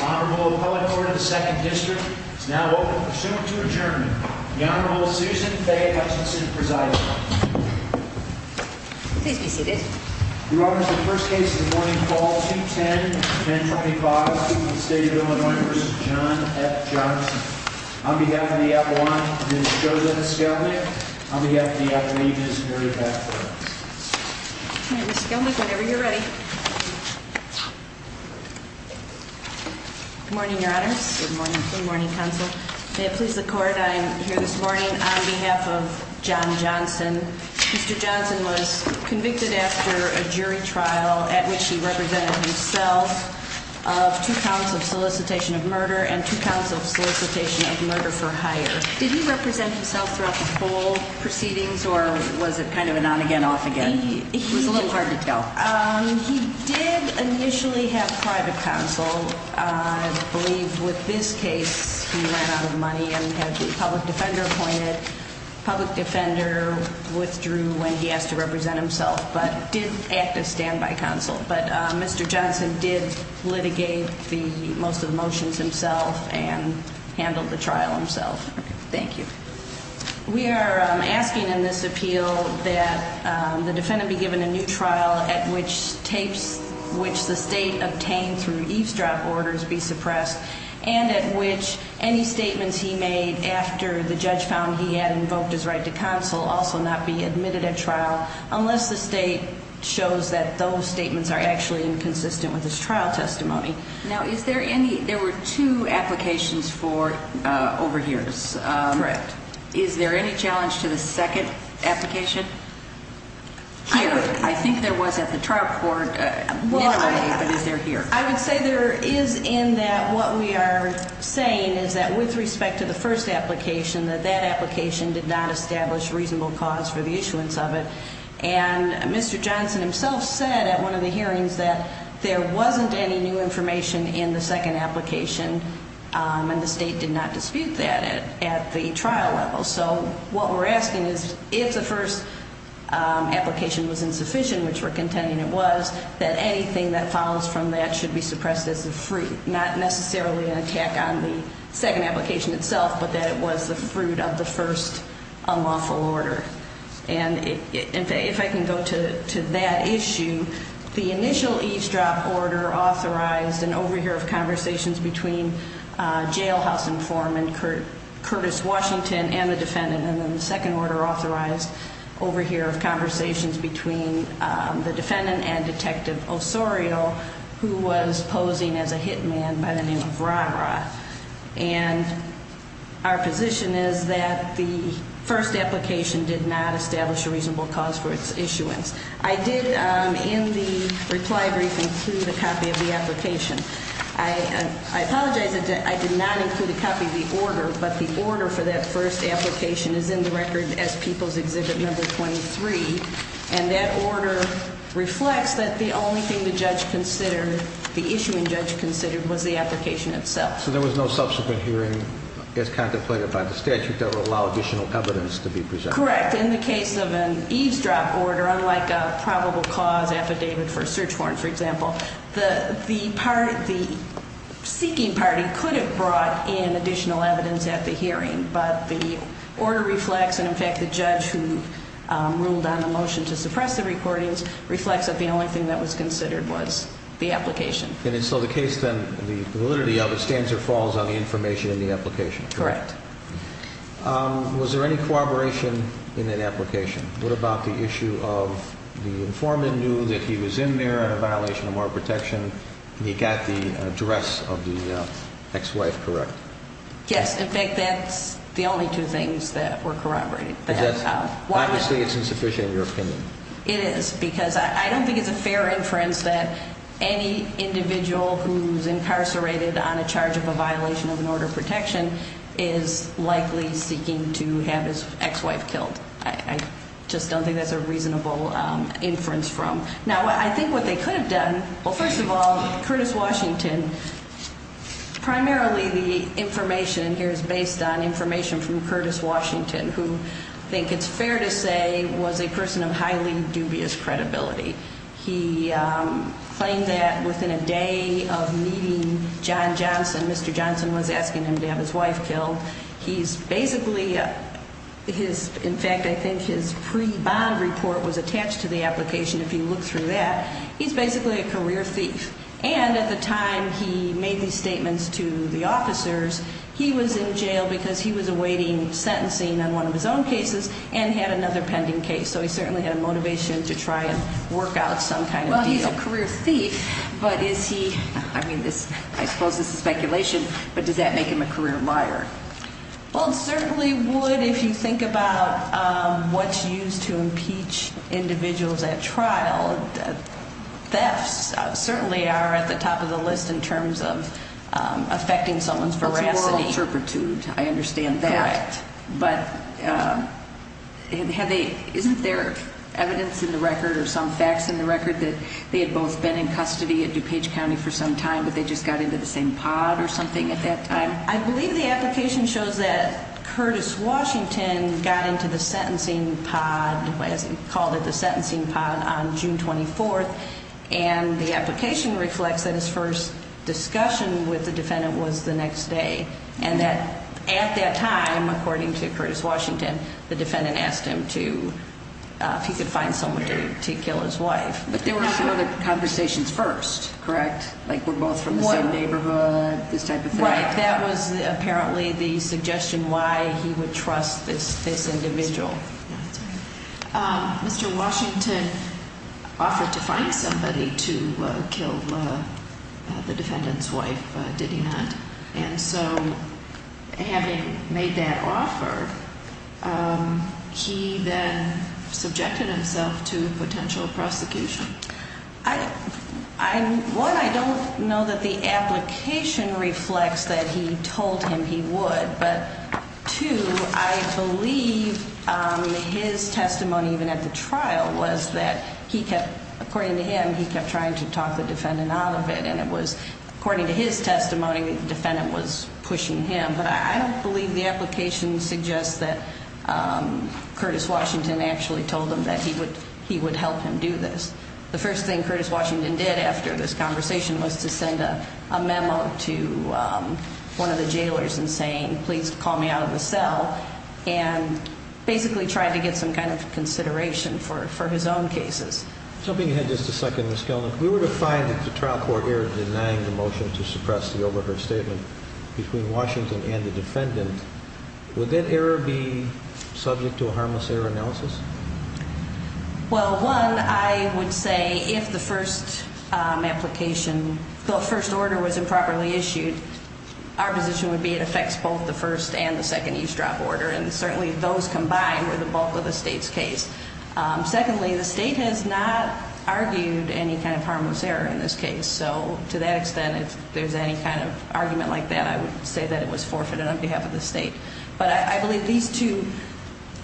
Honorable Appellate Court of the 2nd District is now open for submit to adjournment. The Honorable Susan Faye Hutchinson presiding. Please be seated. We will honor the first case of the morning, call 210-1025, State of Illinois v. John F. Johnson. On behalf of the Appellant, Ms. Joseph Skelnick. On behalf of the Appellee, Ms. Mary Baxter. All right, Ms. Skelnick, whenever you're ready. Good morning, Your Honors. Good morning. Good morning, Counsel. May it please the Court, I am here this morning on behalf of John Johnson. Mr. Johnson was convicted after a jury trial at which he represented himself of two counts of solicitation of murder and two counts of solicitation of murder for hire. Did he represent himself throughout the full proceedings, or was it kind of a on-again, off-again? It was a little hard to tell. He did initially have private counsel. I believe with this case, he ran out of money and had the public defender appointed. Public defender withdrew when he asked to represent himself, but did act as standby counsel. But Mr. Johnson did litigate most of the motions himself and handled the trial himself. Thank you. We are asking in this appeal that the defendant be given a new trial at which tapes, which the State obtained through eavesdrop orders, be suppressed, and at which any statements he made after the judge found he had invoked his right to counsel also not be admitted at trial unless the State shows that those statements are actually inconsistent with his trial testimony. Now, is there any, there were two applications for overhears. Correct. Is there any challenge to the second application? Here. I think there was at the trial court, but is there here? I would say there is in that what we are saying is that with respect to the first application, that that application did not establish reasonable cause for the issuance of it. And Mr. Johnson himself said at one of the hearings that there wasn't any new information in the second application, and the State did not dispute that at the trial level. So what we're asking is if the first application was insufficient, which we're contending it was, that anything that follows from that should be suppressed as a free, not necessarily an attack on the second application itself, but that it was the fruit of the first unlawful order. And if I can go to that issue, the initial eavesdrop order authorized an overhear of conversations between jailhouse informant Curtis Washington and the defendant, and then the second order authorized overhear of conversations between the defendant and Detective Osorio, who was posing as a hit man by the name of Rah-Rah. And our position is that the first application did not establish a reasonable cause for its issuance. I did in the reply brief include a copy of the application. I apologize that I did not include a copy of the order, but the order for that first application is in the record as People's Exhibit Number 23, and that order reflects that the only thing the judge considered, the issuing judge considered, was the application itself. So there was no subsequent hearing as contemplated by the statute that would allow additional evidence to be presented? Correct. In the case of an eavesdrop order, unlike a probable cause affidavit for a search warrant, for example, the seeking party could have brought in additional evidence at the hearing, but the order reflects, and in fact the judge who ruled on the motion to suppress the recordings, reflects that the only thing that was considered was the application. And so the case then, the validity of it, stands or falls on the information in the application? Correct. Was there any corroboration in that application? What about the issue of the informant knew that he was in there in a violation of moral protection, and he got the address of the ex-wife correct? Yes. In fact, that's the only two things that were corroborated. Obviously it's insufficient in your opinion. It is, because I don't think it's a fair inference that any individual who's incarcerated on a charge of a violation of an order of protection is likely seeking to have his ex-wife killed. I just don't think that's a reasonable inference from. Now, I think what they could have done, well, first of all, Curtis Washington, primarily the information here is based on information from Curtis Washington, who I think it's fair to say was a person of highly dubious credibility. He claimed that within a day of meeting John Johnson, Mr. Johnson was asking him to have his wife killed. He's basically, in fact, I think his pre-bond report was attached to the application if you look through that. He's basically a career thief. And at the time he made these statements to the officers, he was in jail because he was awaiting sentencing on one of his own cases and had another pending case, so he certainly had a motivation to try and work out some kind of deal. So he's a career thief, but is he, I mean, I suppose this is speculation, but does that make him a career liar? Well, it certainly would if you think about what's used to impeach individuals at trial. Thefts certainly are at the top of the list in terms of affecting someone's veracity. It's a moral turpitude, I understand that. Correct. But isn't there evidence in the record or some facts in the record that they had both been in custody at DuPage County for some time but they just got into the same pod or something at that time? I believe the application shows that Curtis Washington got into the sentencing pod, as he called it, the sentencing pod on June 24th, and the application reflects that his first discussion with the defendant was the next day and that at that time, according to Curtis Washington, the defendant asked him if he could find someone to kill his wife. But they were still the conversations first, correct? Like, we're both from the same neighborhood, this type of thing? Right, that was apparently the suggestion why he would trust this individual. Mr. Washington offered to find somebody to kill the defendant's wife, did he not? And so having made that offer, he then subjected himself to potential prosecution. One, I don't know that the application reflects that he told him he would, but two, I believe his testimony even at the trial was that he kept, according to him, he kept trying to talk the defendant out of it and it was, according to his testimony, the defendant was pushing him. But I don't believe the application suggests that Curtis Washington actually told him that he would help him do this. The first thing Curtis Washington did after this conversation was to send a memo to one of the jailers and saying, please call me out of the cell, and basically tried to get some kind of consideration for his own cases. If I may add just a second, Ms. Kellman. If we were to find that the trial court error denying the motion to suppress the overheard statement between Washington and the defendant, would that error be subject to a harmless error analysis? Well, one, I would say if the first application, the first order was improperly issued, our position would be it affects both the first and the second eavesdrop order, and certainly those combined were the bulk of the state's case. Secondly, the state has not argued any kind of harmless error in this case. So to that extent, if there's any kind of argument like that, I would say that it was forfeited on behalf of the state. But I believe these two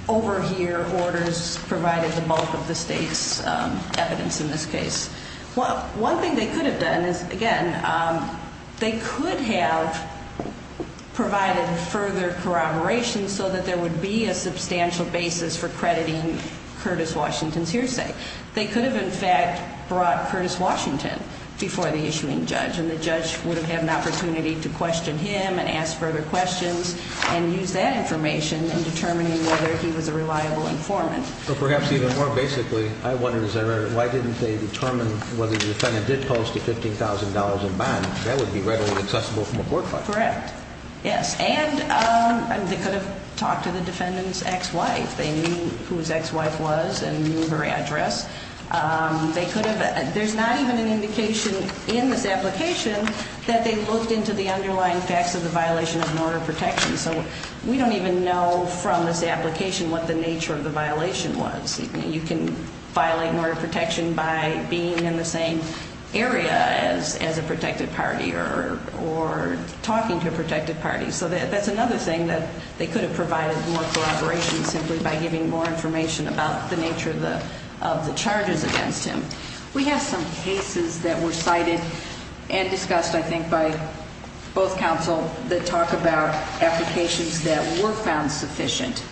overhear orders provided the bulk of the state's evidence in this case. One thing they could have done is, again, they could have provided further corroboration so that there would be a substantial basis for crediting Curtis Washington's hearsay. They could have, in fact, brought Curtis Washington before the issuing judge, and the judge would have had an opportunity to question him and ask further questions and use that information in determining whether he was a reliable informant. But perhaps even more basically, I wonder, as I read it, why didn't they determine whether the defendant did post a $15,000 in bond? That would be readily accessible from a court file. Correct. Yes. And they could have talked to the defendant's ex-wife. They knew whose ex-wife was and knew her address. They could have. There's not even an indication in this application that they looked into the underlying facts of the violation of an order of protection. So we don't even know from this application what the nature of the violation was. You can violate an order of protection by being in the same area as a protected party or talking to a protected party. So that's another thing, that they could have provided more corroboration simply by giving more information about the nature of the charges against him. We have some cases that were cited and discussed, I think, by both counsel that talk about applications that were found sufficient.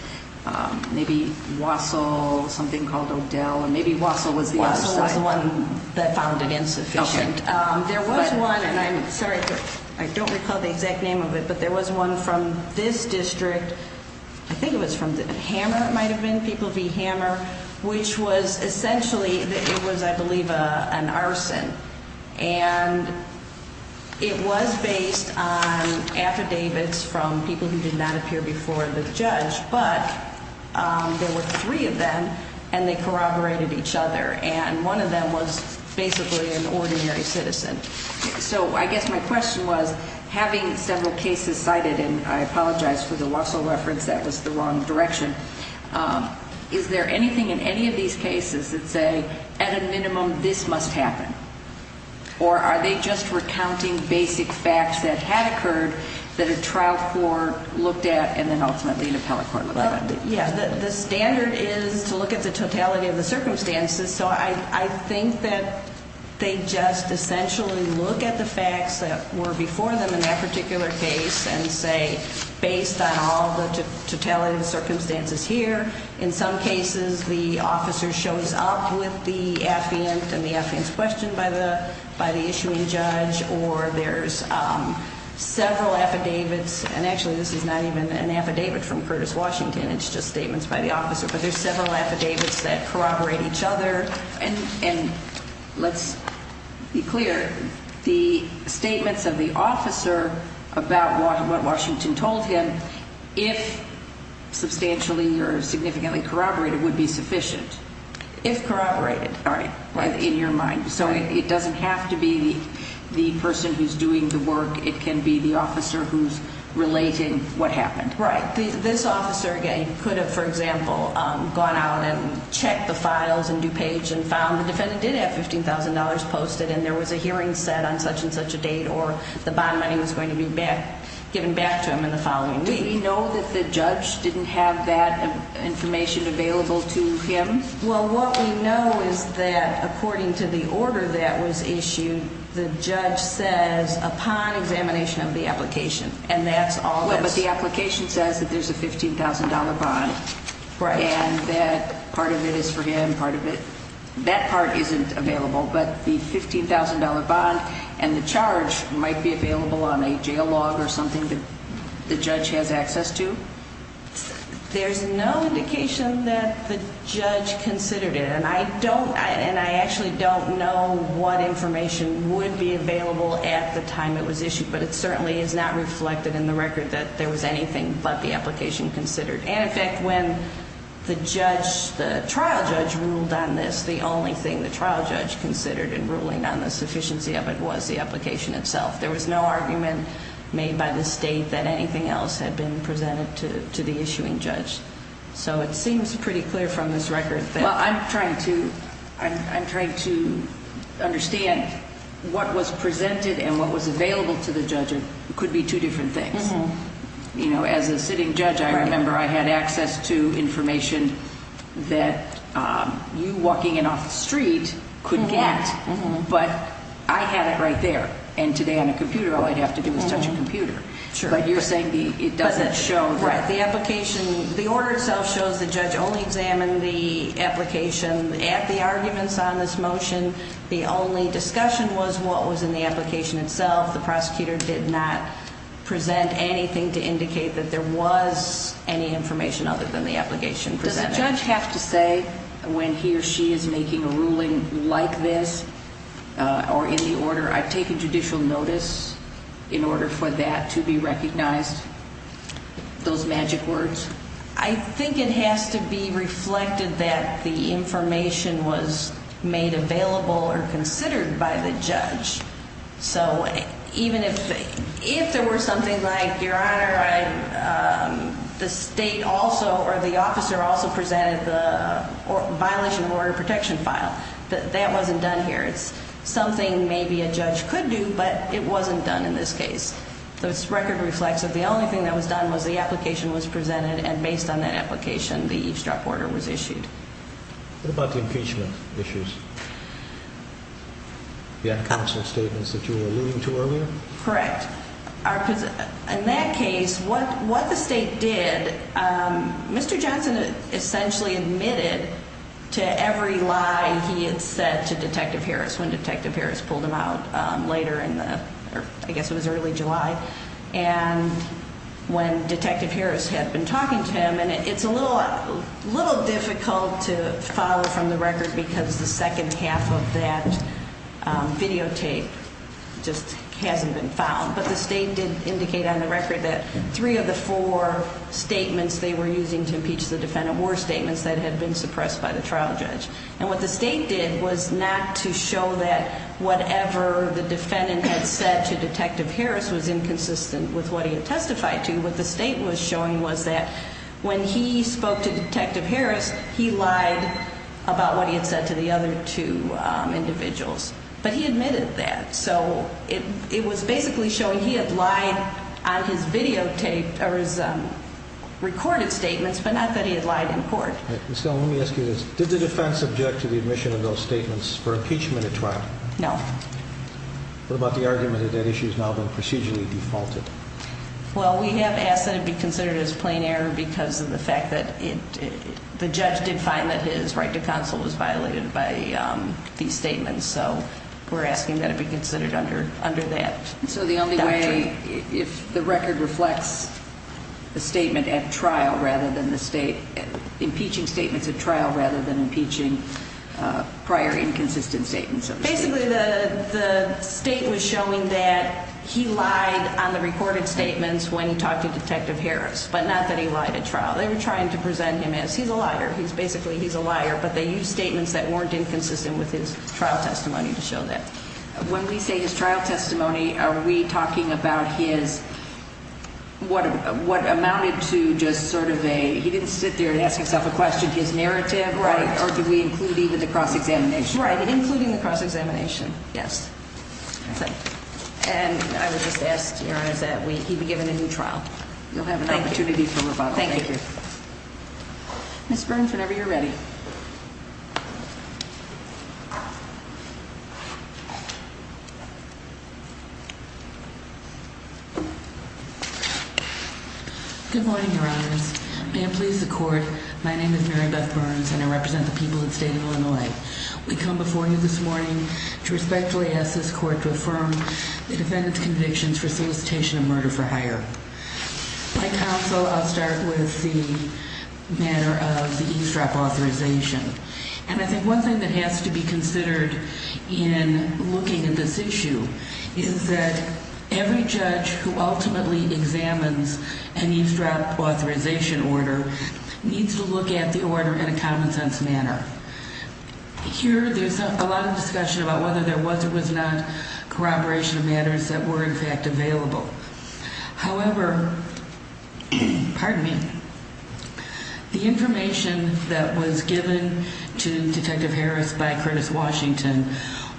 Maybe Wassel, something called Odell, and maybe Wassel was the other side. Wassel was the one that found it insufficient. There was one, and I'm sorry, I don't recall the exact name of it, but there was one from this district. I think it was from Hammer it might have been, people v. Hammer, which was essentially, it was, I believe, an arson. And it was based on affidavits from people who did not appear before the judge, but there were three of them, and they corroborated each other. And one of them was basically an ordinary citizen. So I guess my question was, having several cases cited, and I apologize for the Wassel reference, that was the wrong direction. Is there anything in any of these cases that say, at a minimum, this must happen? Or are they just recounting basic facts that had occurred that a trial court looked at and then ultimately an appellate court looked at? Yeah, the standard is to look at the totality of the circumstances, so I think that they just essentially look at the facts that were before them in that particular case and say, based on all the totality of the circumstances here, in some cases the officer shows up with the affiant and the affiant's questioned by the issuing judge, or there's several affidavits, and actually this is not even an affidavit from Curtis Washington, it's just statements by the officer, but there's several affidavits that corroborate each other. And let's be clear, the statements of the officer about what Washington told him, if substantially or significantly corroborated, would be sufficient? If corroborated, right. In your mind. So it doesn't have to be the person who's doing the work, it can be the officer who's relating what happened. Right. This officer, again, could have, for example, gone out and checked the files in DuPage and found the defendant did have $15,000 posted and there was a hearing set on such and such a date or the bond money was going to be given back to him in the following week. Do we know that the judge didn't have that information available to him? Well, what we know is that according to the order that was issued, the judge says, upon examination of the application, and that's all there is. Well, but the application says that there's a $15,000 bond. Right. And that part of it is for him, part of it, that part isn't available. But the $15,000 bond and the charge might be available on a jail log or something that the judge has access to? There's no indication that the judge considered it. And I actually don't know what information would be available at the time it was issued, but it certainly is not reflected in the record that there was anything but the application considered. And in fact, when the trial judge ruled on this, the only thing the trial judge considered in ruling on the sufficiency of it was the application itself. There was no argument made by the state that anything else had been presented to the issuing judge. So it seems pretty clear from this record that I'm trying to understand what was presented and what was available to the judge could be two different things. As a sitting judge, I remember I had access to information that you walking in off the street could get. But I had it right there. And today on a computer, all I'd have to do is touch a computer. But you're saying it doesn't show. Right. The application, the order itself shows the judge only examined the application at the arguments on this motion. The only discussion was what was in the application itself. The prosecutor did not present anything to indicate that there was any information other than the application. Does the judge have to say when he or she is making a ruling like this or in the order, I take a judicial notice in order for that to be recognized? Those magic words. I think it has to be reflected that the information was made available or considered by the judge. So even if if there were something like your honor, the state also or the officer also presented the violation of order protection file. That wasn't done here. It's something maybe a judge could do, but it wasn't done in this case. So it's record reflexive. The only thing that was done was the application was presented. And based on that application, the eavesdrop order was issued. What about the impeachment issues? Yeah. Constant statements that you were alluding to earlier. Correct. In that case, what what the state did. Mr. Johnson essentially admitted to every lie he had said to Detective Harris when Detective Harris pulled him out later in the I guess it was early July. And when Detective Harris had been talking to him and it's a little a little difficult to follow from the record because the second half of that videotape just hasn't been found. But the state did indicate on the record that three of the four statements they were using to impeach the defendant were statements that had been suppressed by the trial judge. And what the state did was not to show that whatever the defendant had said to Detective Harris was inconsistent with what he had testified to. What the state was showing was that when he spoke to Detective Harris, he lied about what he had said to the other two individuals. But he admitted that. So it was basically showing he had lied on his videotape or his recorded statements, but not that he had lied in court. So let me ask you this. Did the defense object to the admission of those statements for impeachment at trial? No. What about the argument that that issue has now been procedurally defaulted? Well, we have asked that it be considered as plain error because of the fact that the judge did find that his right to counsel was violated by these statements. So we're asking that it be considered under under that. So the only way if the record reflects the statement at trial rather than the state impeaching statements at trial rather than impeaching prior inconsistent statements. Basically, the state was showing that he lied on the recorded statements when he talked to Detective Harris, but not that he lied at trial. They were trying to present him as he's a liar. He's basically he's a liar. But they use statements that weren't inconsistent with his trial testimony to show that when we say his trial testimony, are we talking about his what? What amounted to just sort of a he didn't sit there and ask himself a question, his narrative. Right. Or do we include even the cross examination? Right. Including the cross examination. Yes. And I would just ask that we be given a new trial. You'll have an opportunity for rebuttal. Thank you. Ms. Burns, whenever you're ready. Good morning, Your Honors. May it please the court. My name is Mary Beth Burns, and I represent the people of the state of Illinois. We come before you this morning to respectfully ask this court to affirm the defendant's convictions for solicitation of murder for hire. My counsel, I'll start with the matter of the eavesdrop authorization. And I think one thing that has to be considered in looking at this issue is that every judge who ultimately examines an eavesdrop authorization order needs to look at the order in a common sense manner. Here there's a lot of discussion about whether there was or was not corroboration of matters that were in fact available. However, pardon me, the information that was given to Detective Harris by Curtis Washington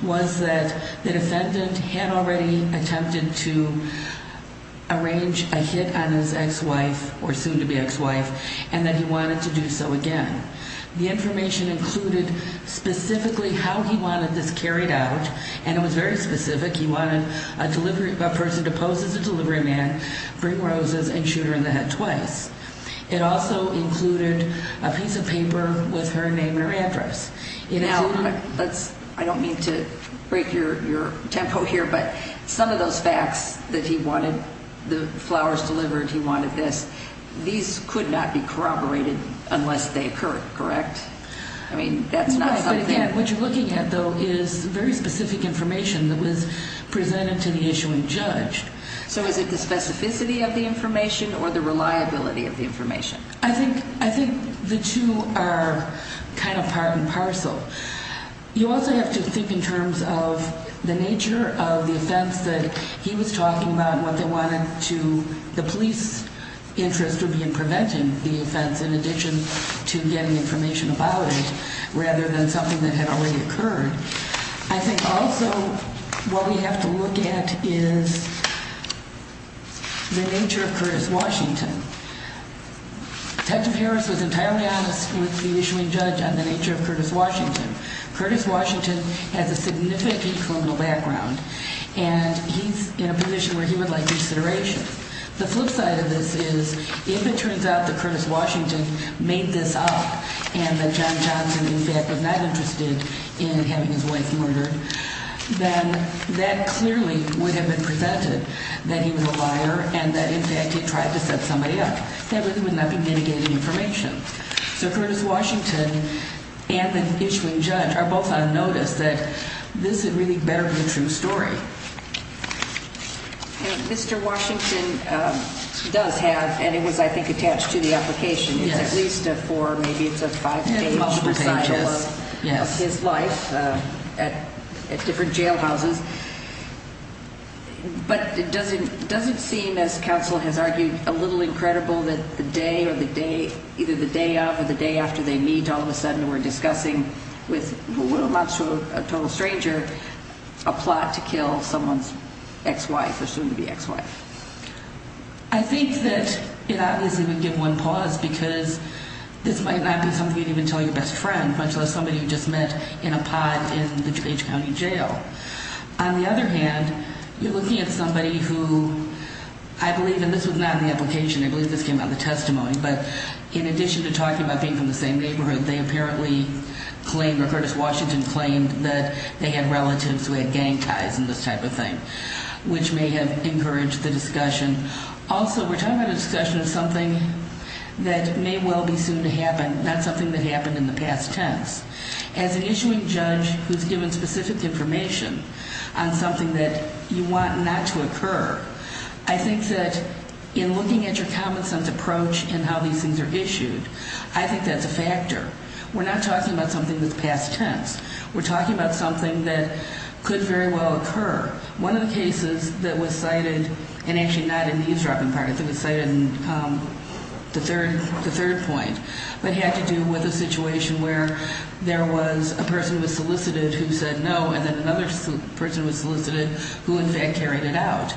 was that the defendant had already attempted to arrange a hit on his ex-wife, or soon to be ex-wife, and that he wanted to do so again. The information included specifically how he wanted this carried out, and it was very specific. He wanted a person to pose as a delivery man, bring roses, and shoot her in the head twice. It also included a piece of paper with her name and her address. Now, I don't mean to break your tempo here, but some of those facts that he wanted, the flowers delivered, he wanted this, these could not be corroborated unless they occurred, correct? No, but again, what you're looking at, though, is very specific information that was presented to the issuing judge. So is it the specificity of the information or the reliability of the information? I think the two are kind of part and parcel. You also have to think in terms of the nature of the offense that he was talking about and what the police interest would be in preventing the offense in addition to getting information about it rather than something that had already occurred. I think also what we have to look at is the nature of Curtis Washington. Detective Harris was entirely honest with the issuing judge on the nature of Curtis Washington. Curtis Washington has a significant criminal background, and he's in a position where he would like consideration. The flip side of this is if it turns out that Curtis Washington made this up and that John Johnson, in fact, was not interested in having his wife murdered, then that clearly would have been prevented, that he was a liar and that, in fact, he tried to set somebody up. That really would not be mitigating information. So Curtis Washington and the issuing judge are both on notice that this had really better be a true story. Mr. Washington does have, and it was, I think, attached to the application, at least a four, maybe it's a five-page recital of his life at different jailhouses. But it doesn't seem, as counsel has argued, a little incredible that the day or the day, either the day of or the day after they meet, all of a sudden we're discussing with a total stranger a plot to kill someone's ex-wife or soon-to-be ex-wife. I think that it obviously would give one pause because this might not be something you'd even tell your best friend, much less somebody you just met in a pod in the DuPage County Jail. On the other hand, you're looking at somebody who, I believe, and this was not in the application, I believe this came out of the testimony, but in addition to talking about being from the same neighborhood, they apparently claimed, or Curtis Washington claimed, that they had relatives who had gang ties and this type of thing, which may have encouraged the discussion. Also, we're talking about a discussion of something that may well be soon to happen, not something that happened in the past tense. As an issuing judge who's given specific information on something that you want not to occur, I think that in looking at your common sense approach in how these things are issued, I think that's a factor. We're not talking about something that's past tense. We're talking about something that could very well occur. One of the cases that was cited, and actually not in the eavesdropping part, I think it was cited in the third point, but had to do with a situation where there was a person who was solicited who said no, and then another person was solicited who, in fact, carried it out.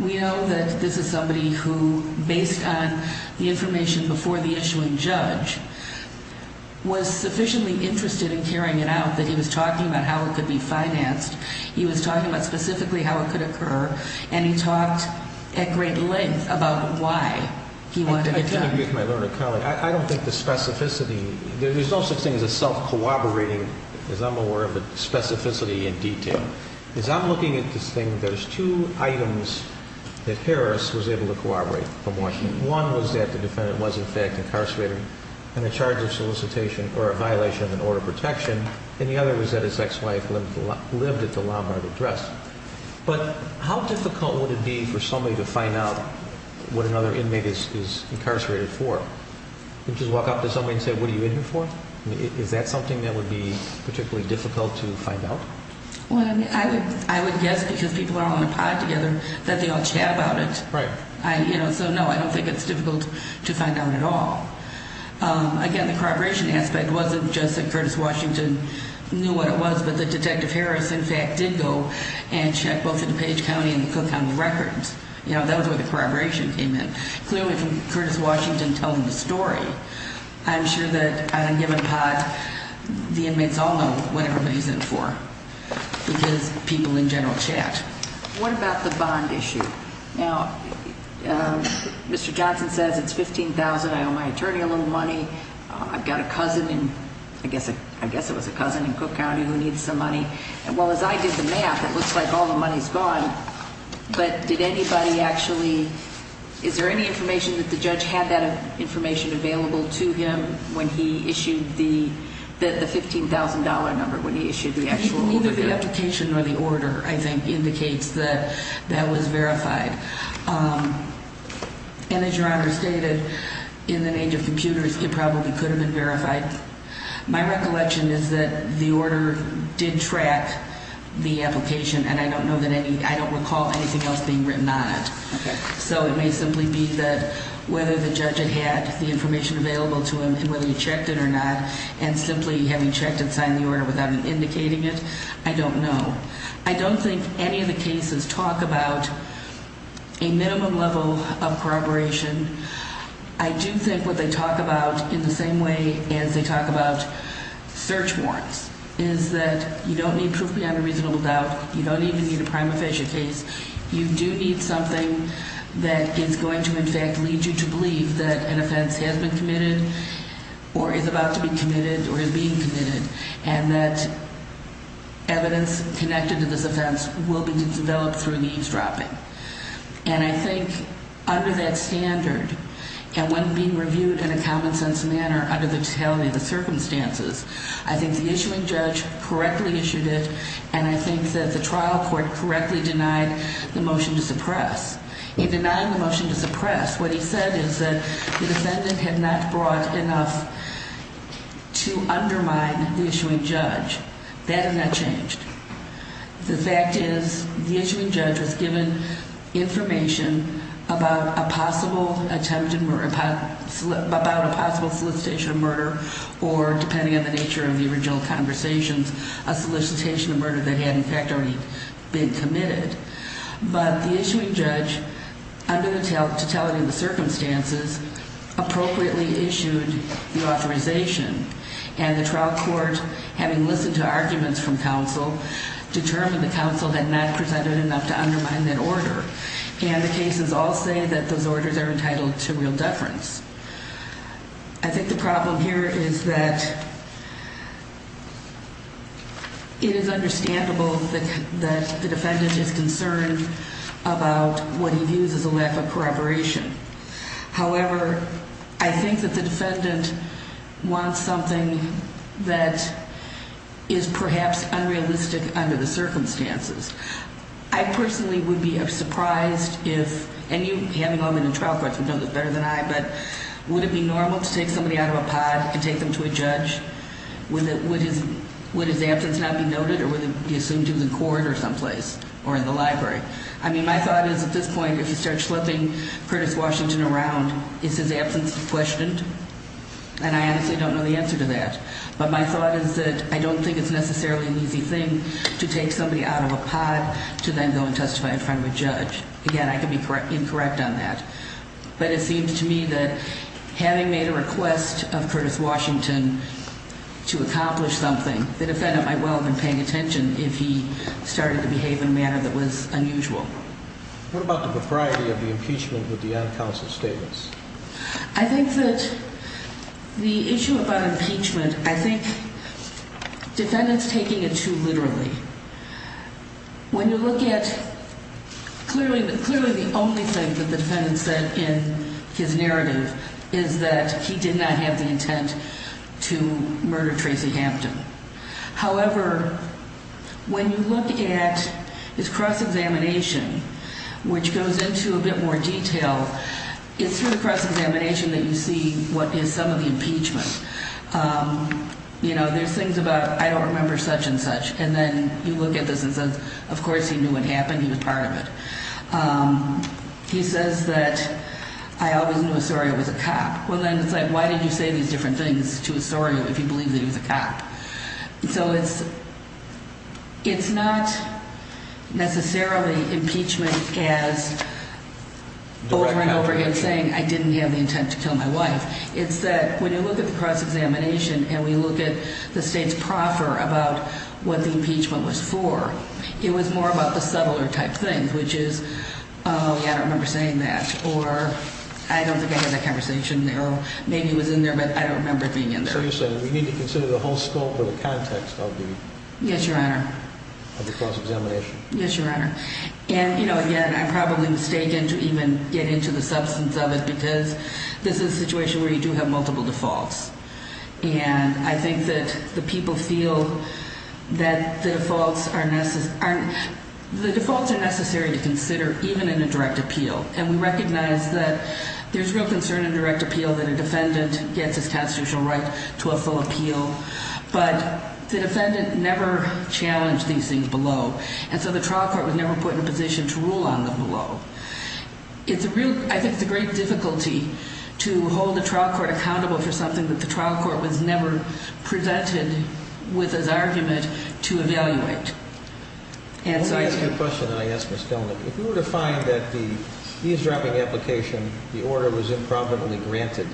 We know that this is somebody who, based on the information before the issuing judge, was sufficiently interested in carrying it out that he was talking about how it could be financed. He was talking about specifically how it could occur, and he talked at great length about why he wanted it done. I can agree with my learned colleague. I don't think the specificity – there's no such thing as a self-cooperating, as I'm aware of, specificity in detail. As I'm looking at this thing, there's two items that Harris was able to cooperate from Washington. One was that the defendant was, in fact, incarcerated and in charge of solicitation or a violation of an order of protection. And the other was that his ex-wife lived at the Lombard address. But how difficult would it be for somebody to find out what another inmate is incarcerated for? Just walk up to somebody and say, what are you in here for? Is that something that would be particularly difficult to find out? Well, I would guess, because people are all in a pod together, that they all chat about it. Right. So, no, I don't think it's difficult to find out at all. Again, the corroboration aspect wasn't just that Curtis Washington knew what it was, but that Detective Harris, in fact, did go and check both the DuPage County and the Cook County records. You know, that was where the corroboration came in. Clearly, from Curtis Washington telling the story, I'm sure that on a given pod, the inmates all know what everybody's in for, because people in general chat. What about the bond issue? Now, Mr. Johnson says it's $15,000. I owe my attorney a little money. I've got a cousin in, I guess it was a cousin in Cook County who needs some money. Well, as I did the math, it looks like all the money's gone. But did anybody actually, is there any information that the judge had that information available to him when he issued the $15,000 number, when he issued the actual order? Well, neither the application nor the order, I think, indicates that that was verified. And as Your Honor stated, in the age of computers, it probably could have been verified. My recollection is that the order did track the application, and I don't recall anything else being written on it. Okay. So it may simply be that whether the judge had had the information available to him and whether he checked it or not, and simply having checked and signed the order without indicating it, I don't know. I don't think any of the cases talk about a minimum level of corroboration. I do think what they talk about in the same way as they talk about search warrants is that you don't need proof beyond a reasonable doubt. You don't even need a prima facie case. You do need something that is going to, in fact, lead you to believe that an offense has been committed or is about to be committed or is being committed and that evidence connected to this offense will be developed through eavesdropping. And I think under that standard and when being reviewed in a common-sense manner under the totality of the circumstances, I think the issuing judge correctly issued it, and I think that the trial court correctly denied the motion to suppress. In denying the motion to suppress, what he said is that the defendant had not brought enough to undermine the issuing judge. That has not changed. The fact is the issuing judge was given information about a possible solicitation of murder or, depending on the nature of the original conversations, a solicitation of murder that had, in fact, already been committed. But the issuing judge, under the totality of the circumstances, appropriately issued the authorization, and the trial court, having listened to arguments from counsel, determined the counsel had not presented enough to undermine that order. And the cases all say that those orders are entitled to real deference. I think the problem here is that it is understandable that the defendant is concerned about what he views as a lack of corroboration. However, I think that the defendant wants something that is perhaps unrealistic under the circumstances. I personally would be surprised if, and you, having all been in trial courts, would know this better than I, but would it be normal to take somebody out of a pod and take them to a judge? Would his absence not be noted or would it be assumed he was in court or someplace or in the library? I mean, my thought is, at this point, if you start slipping Curtis Washington around, is his absence questioned? And I honestly don't know the answer to that. But my thought is that I don't think it's necessarily an easy thing to take somebody out of a pod to then go and testify in front of a judge. Again, I can be incorrect on that. But it seems to me that, having made a request of Curtis Washington to accomplish something, the defendant might well have been paying attention if he started to behave in a manner that was unusual. What about the propriety of the impeachment with the on-counsel statements? I think that the issue about impeachment, I think defendant's taking it too literally. When you look at, clearly the only thing that the defendant said in his narrative is that he did not have the intent to murder Tracy Hampton. However, when you look at his cross-examination, which goes into a bit more detail, it's through the cross-examination that you see what is some of the impeachment. There's things about, I don't remember such and such. And then you look at this and say, of course he knew what happened, he was part of it. He says that, I always knew Osorio was a cop. Well then, it's like, why did you say these different things to Osorio if you believe that he was a cop? So it's not necessarily impeachment as over and over again saying, I didn't have the intent to kill my wife. It's that when you look at the cross-examination and we look at the state's proffer about what the impeachment was for, it was more about the subtler type things, which is, oh yeah, I don't remember saying that. Or, I don't think I had that conversation there. Maybe it was in there, but I don't remember it being in there. So you're saying we need to consider the whole scope of the context of the cross-examination. Yes, Your Honor. And, you know, again, I'm probably mistaken to even get into the substance of it because this is a situation where you do have multiple defaults. And I think that the people feel that the defaults are necessary to consider even in a direct appeal. And we recognize that there's real concern in direct appeal that a defendant gets his constitutional right to a full appeal. But the defendant never challenged these things below. And so the trial court was never put in a position to rule on them below. I think it's a great difficulty to hold a trial court accountable for something that the trial court was never presented with as argument to evaluate. Let me ask you a question that I asked Ms. Kellnick. If you were to find that the eavesdropping application, the order was improbably granted,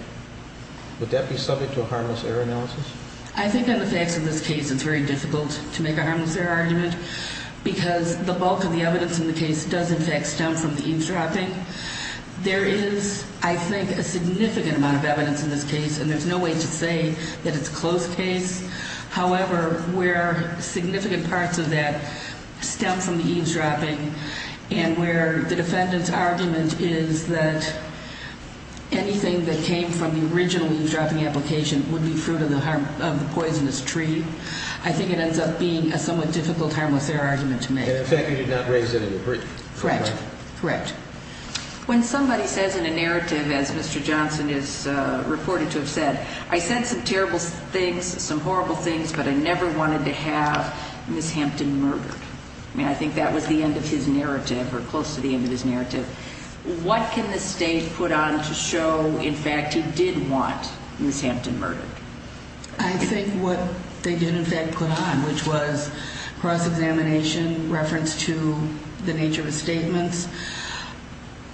would that be subject to a harmless error analysis? I think on the facts of this case, it's very difficult to make a harmless error argument. Because the bulk of the evidence in the case does, in fact, stem from the eavesdropping. There is, I think, a significant amount of evidence in this case. And there's no way to say that it's a close case. However, where significant parts of that stem from the eavesdropping and where the defendant's argument is that anything that came from the original eavesdropping application would be fruit of the poisonous tree. I think it ends up being a somewhat difficult harmless error argument to make. And in fact, you did not raise it in the brief. Correct. Correct. When somebody says in a narrative, as Mr. Johnson is reported to have said, I said some terrible things, some horrible things, but I never wanted to have Ms. Hampton murdered. I mean, I think that was the end of his narrative or close to the end of his narrative. What can the State put on to show, in fact, he did want Ms. Hampton murdered? I think what they did, in fact, put on, which was cross-examination, reference to the nature of his statements.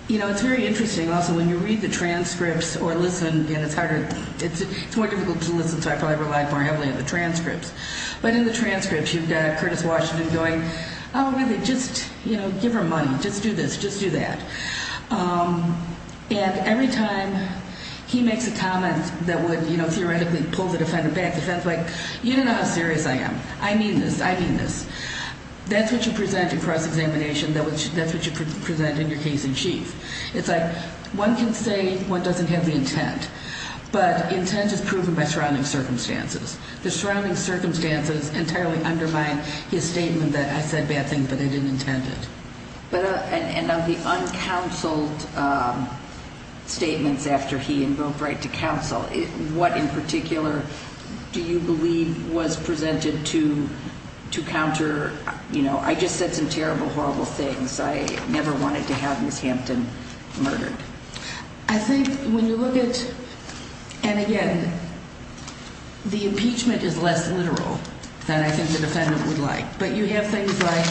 You know, it's very interesting, also, when you read the transcripts or listen, and it's harder, it's more difficult to listen, so I probably relied more heavily on the transcripts. But in the transcripts, you've got Curtis Washington going, oh, really, just give her money, just do this, just do that. And every time he makes a comment that would, you know, theoretically pull the defendant back, the defendant's like, you don't know how serious I am. I mean this. I mean this. That's what you present in cross-examination. That's what you present in your case in chief. It's like one can say one doesn't have the intent, but intent is proven by surrounding circumstances. The surrounding circumstances entirely undermine his statement that I said bad things, but I didn't intend it. And of the uncounseled statements after he invoked right to counsel, what in particular do you believe was presented to counter, you know, I just said some terrible, horrible things. I never wanted to have Ms. Hampton murdered. I think when you look at, and again, the impeachment is less literal than I think the defendant would like. But you have things like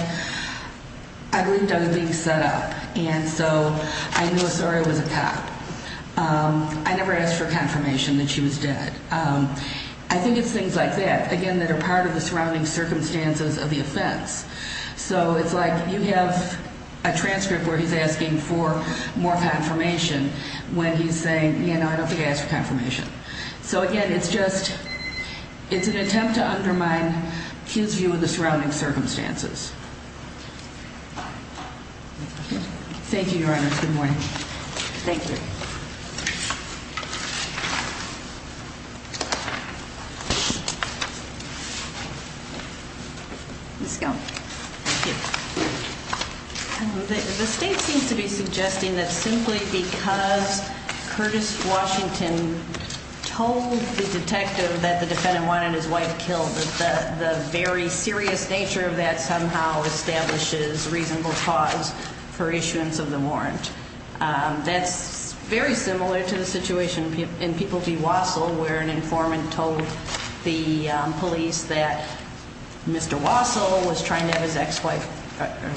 I believed I was being set up, and so I knew Osorio was a cop. I never asked for confirmation that she was dead. I think it's things like that, again, that are part of the surrounding circumstances of the offense. So it's like you have a transcript where he's asking for more confirmation when he's saying, you know, I don't think I asked for confirmation. So, again, it's just it's an attempt to undermine his view of the surrounding circumstances. Thank you, Your Honor. Good morning. Thank you. Ms. Skelton. Thank you. The state seems to be suggesting that simply because Curtis Washington told the detective that the defendant wanted his wife killed, that the very serious nature of that somehow establishes reasonable cause for issuance of the warrant. That's very similar to the situation in People v. Wassell where an informant told the police that Mr. Wassell was trying to have his ex-wife,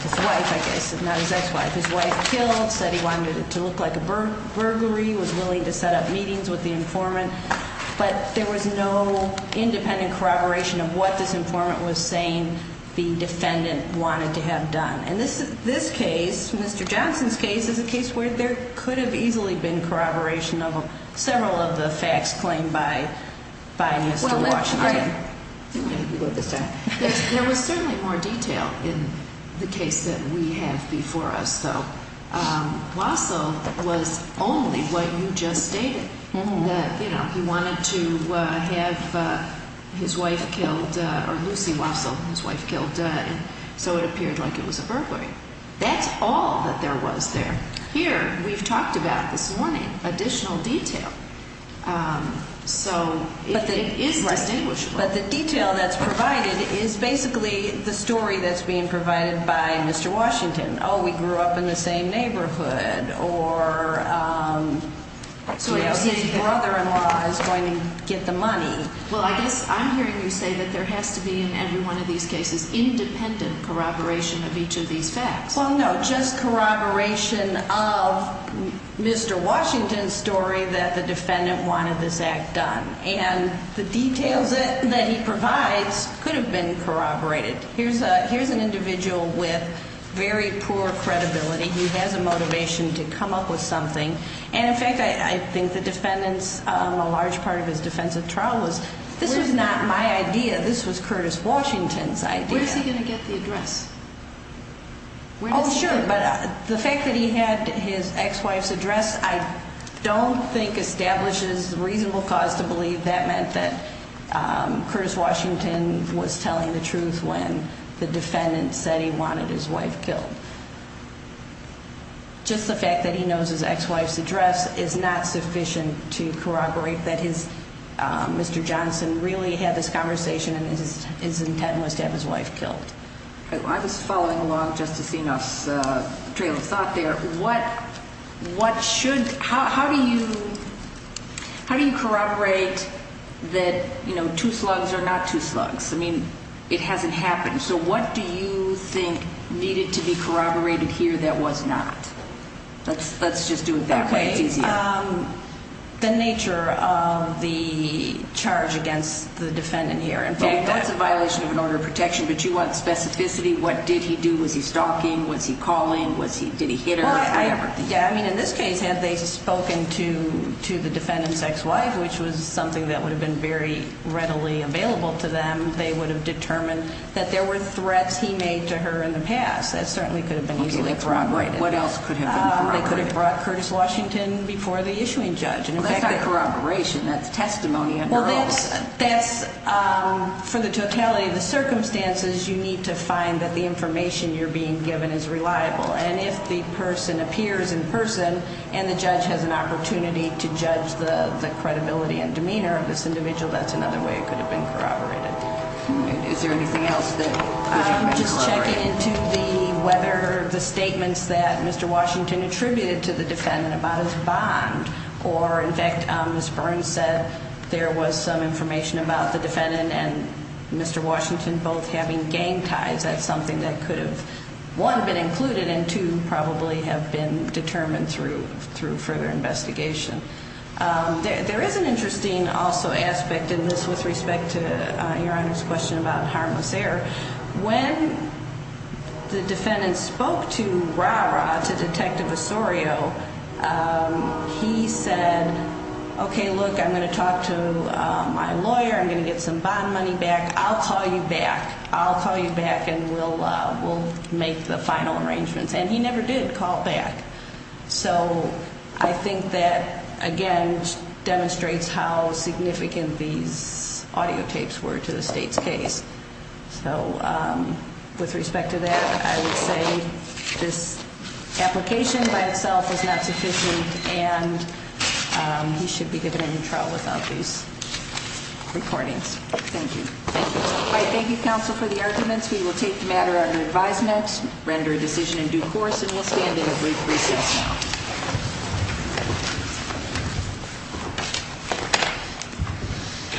his wife, I guess, not his ex-wife, his wife killed, said he wanted it to look like a burglary, was willing to set up meetings with the informant. But there was no independent corroboration of what this informant was saying the defendant wanted to have done. And this case, Mr. Johnson's case, is a case where there could have easily been corroboration of several of the facts claimed by Mr. Washington. There was certainly more detail in the case that we have before us, though. Wassell was only what you just stated, that, you know, he wanted to have his wife killed, or Lucy Wassell, his wife killed, and so it appeared like it was a burglary. That's all that there was there. Here, we've talked about this morning, additional detail. So it is distinguishable. But the detail that's provided is basically the story that's being provided by Mr. Washington. Oh, we grew up in the same neighborhood, or his brother-in-law is going to get the money. Well, I guess I'm hearing you say that there has to be, in every one of these cases, independent corroboration of each of these facts. Well, no, just corroboration of Mr. Washington's story that the defendant wanted this act done. And the details that he provides could have been corroborated. Here's an individual with very poor credibility. He has a motivation to come up with something. And, in fact, I think the defendant's, a large part of his defensive trial was, this was not my idea. This was Curtis Washington's idea. Where is he going to get the address? Oh, sure. But the fact that he had his ex-wife's address I don't think establishes reasonable cause to believe that meant that Curtis Washington was telling the truth when the defendant said he wanted his wife killed. Just the fact that he knows his ex-wife's address is not sufficient to corroborate that Mr. Johnson really had this conversation and his intent was to have his wife killed. I was following along Justice Enos' trail of thought there. How do you corroborate that two slugs are not two slugs? I mean, it hasn't happened. So what do you think needed to be corroborated here that was not? Let's just do it that way. The nature of the charge against the defendant here. That's a violation of an order of protection, but you want specificity. What did he do? Was he stalking? Was he calling? Did he hit her? I mean, in this case, had they spoken to the defendant's ex-wife, which was something that would have been very readily available to them, they would have determined that there were threats he made to her in the past. That certainly could have been easily corroborated. What else could have been corroborated? They could have brought Curtis Washington before the issuing judge. That's not corroboration. That's testimony under oath. For the totality of the circumstances, you need to find that the information you're being given is reliable. And if the person appears in person and the judge has an opportunity to judge the credibility and demeanor of this individual, that's another way it could have been corroborated. Is there anything else that could have been corroborated? Just checking into whether the statements that Mr. Washington attributed to the defendant about his bond or, in fact, Ms. Burns said there was some information about the defendant and Mr. Washington both having gang ties. That's something that could have, one, been included, and two, probably have been determined through further investigation. There is an interesting, also, aspect in this with respect to Your Honor's question about harmless air. When the defendant spoke to RARA, to Detective Osorio, he said, okay, look, I'm going to talk to my lawyer, I'm going to get some bond money back, I'll call you back, I'll call you back and we'll make the final arrangements. And he never did call back. So I think that, again, demonstrates how significant these audiotapes were to the state's case. So with respect to that, I would say this application by itself is not sufficient and he should be given a new trial without these recordings. Thank you. All right, thank you, counsel, for the arguments. We will take the matter under advisement, render a decision in due course, and we'll stand in a brief recess now.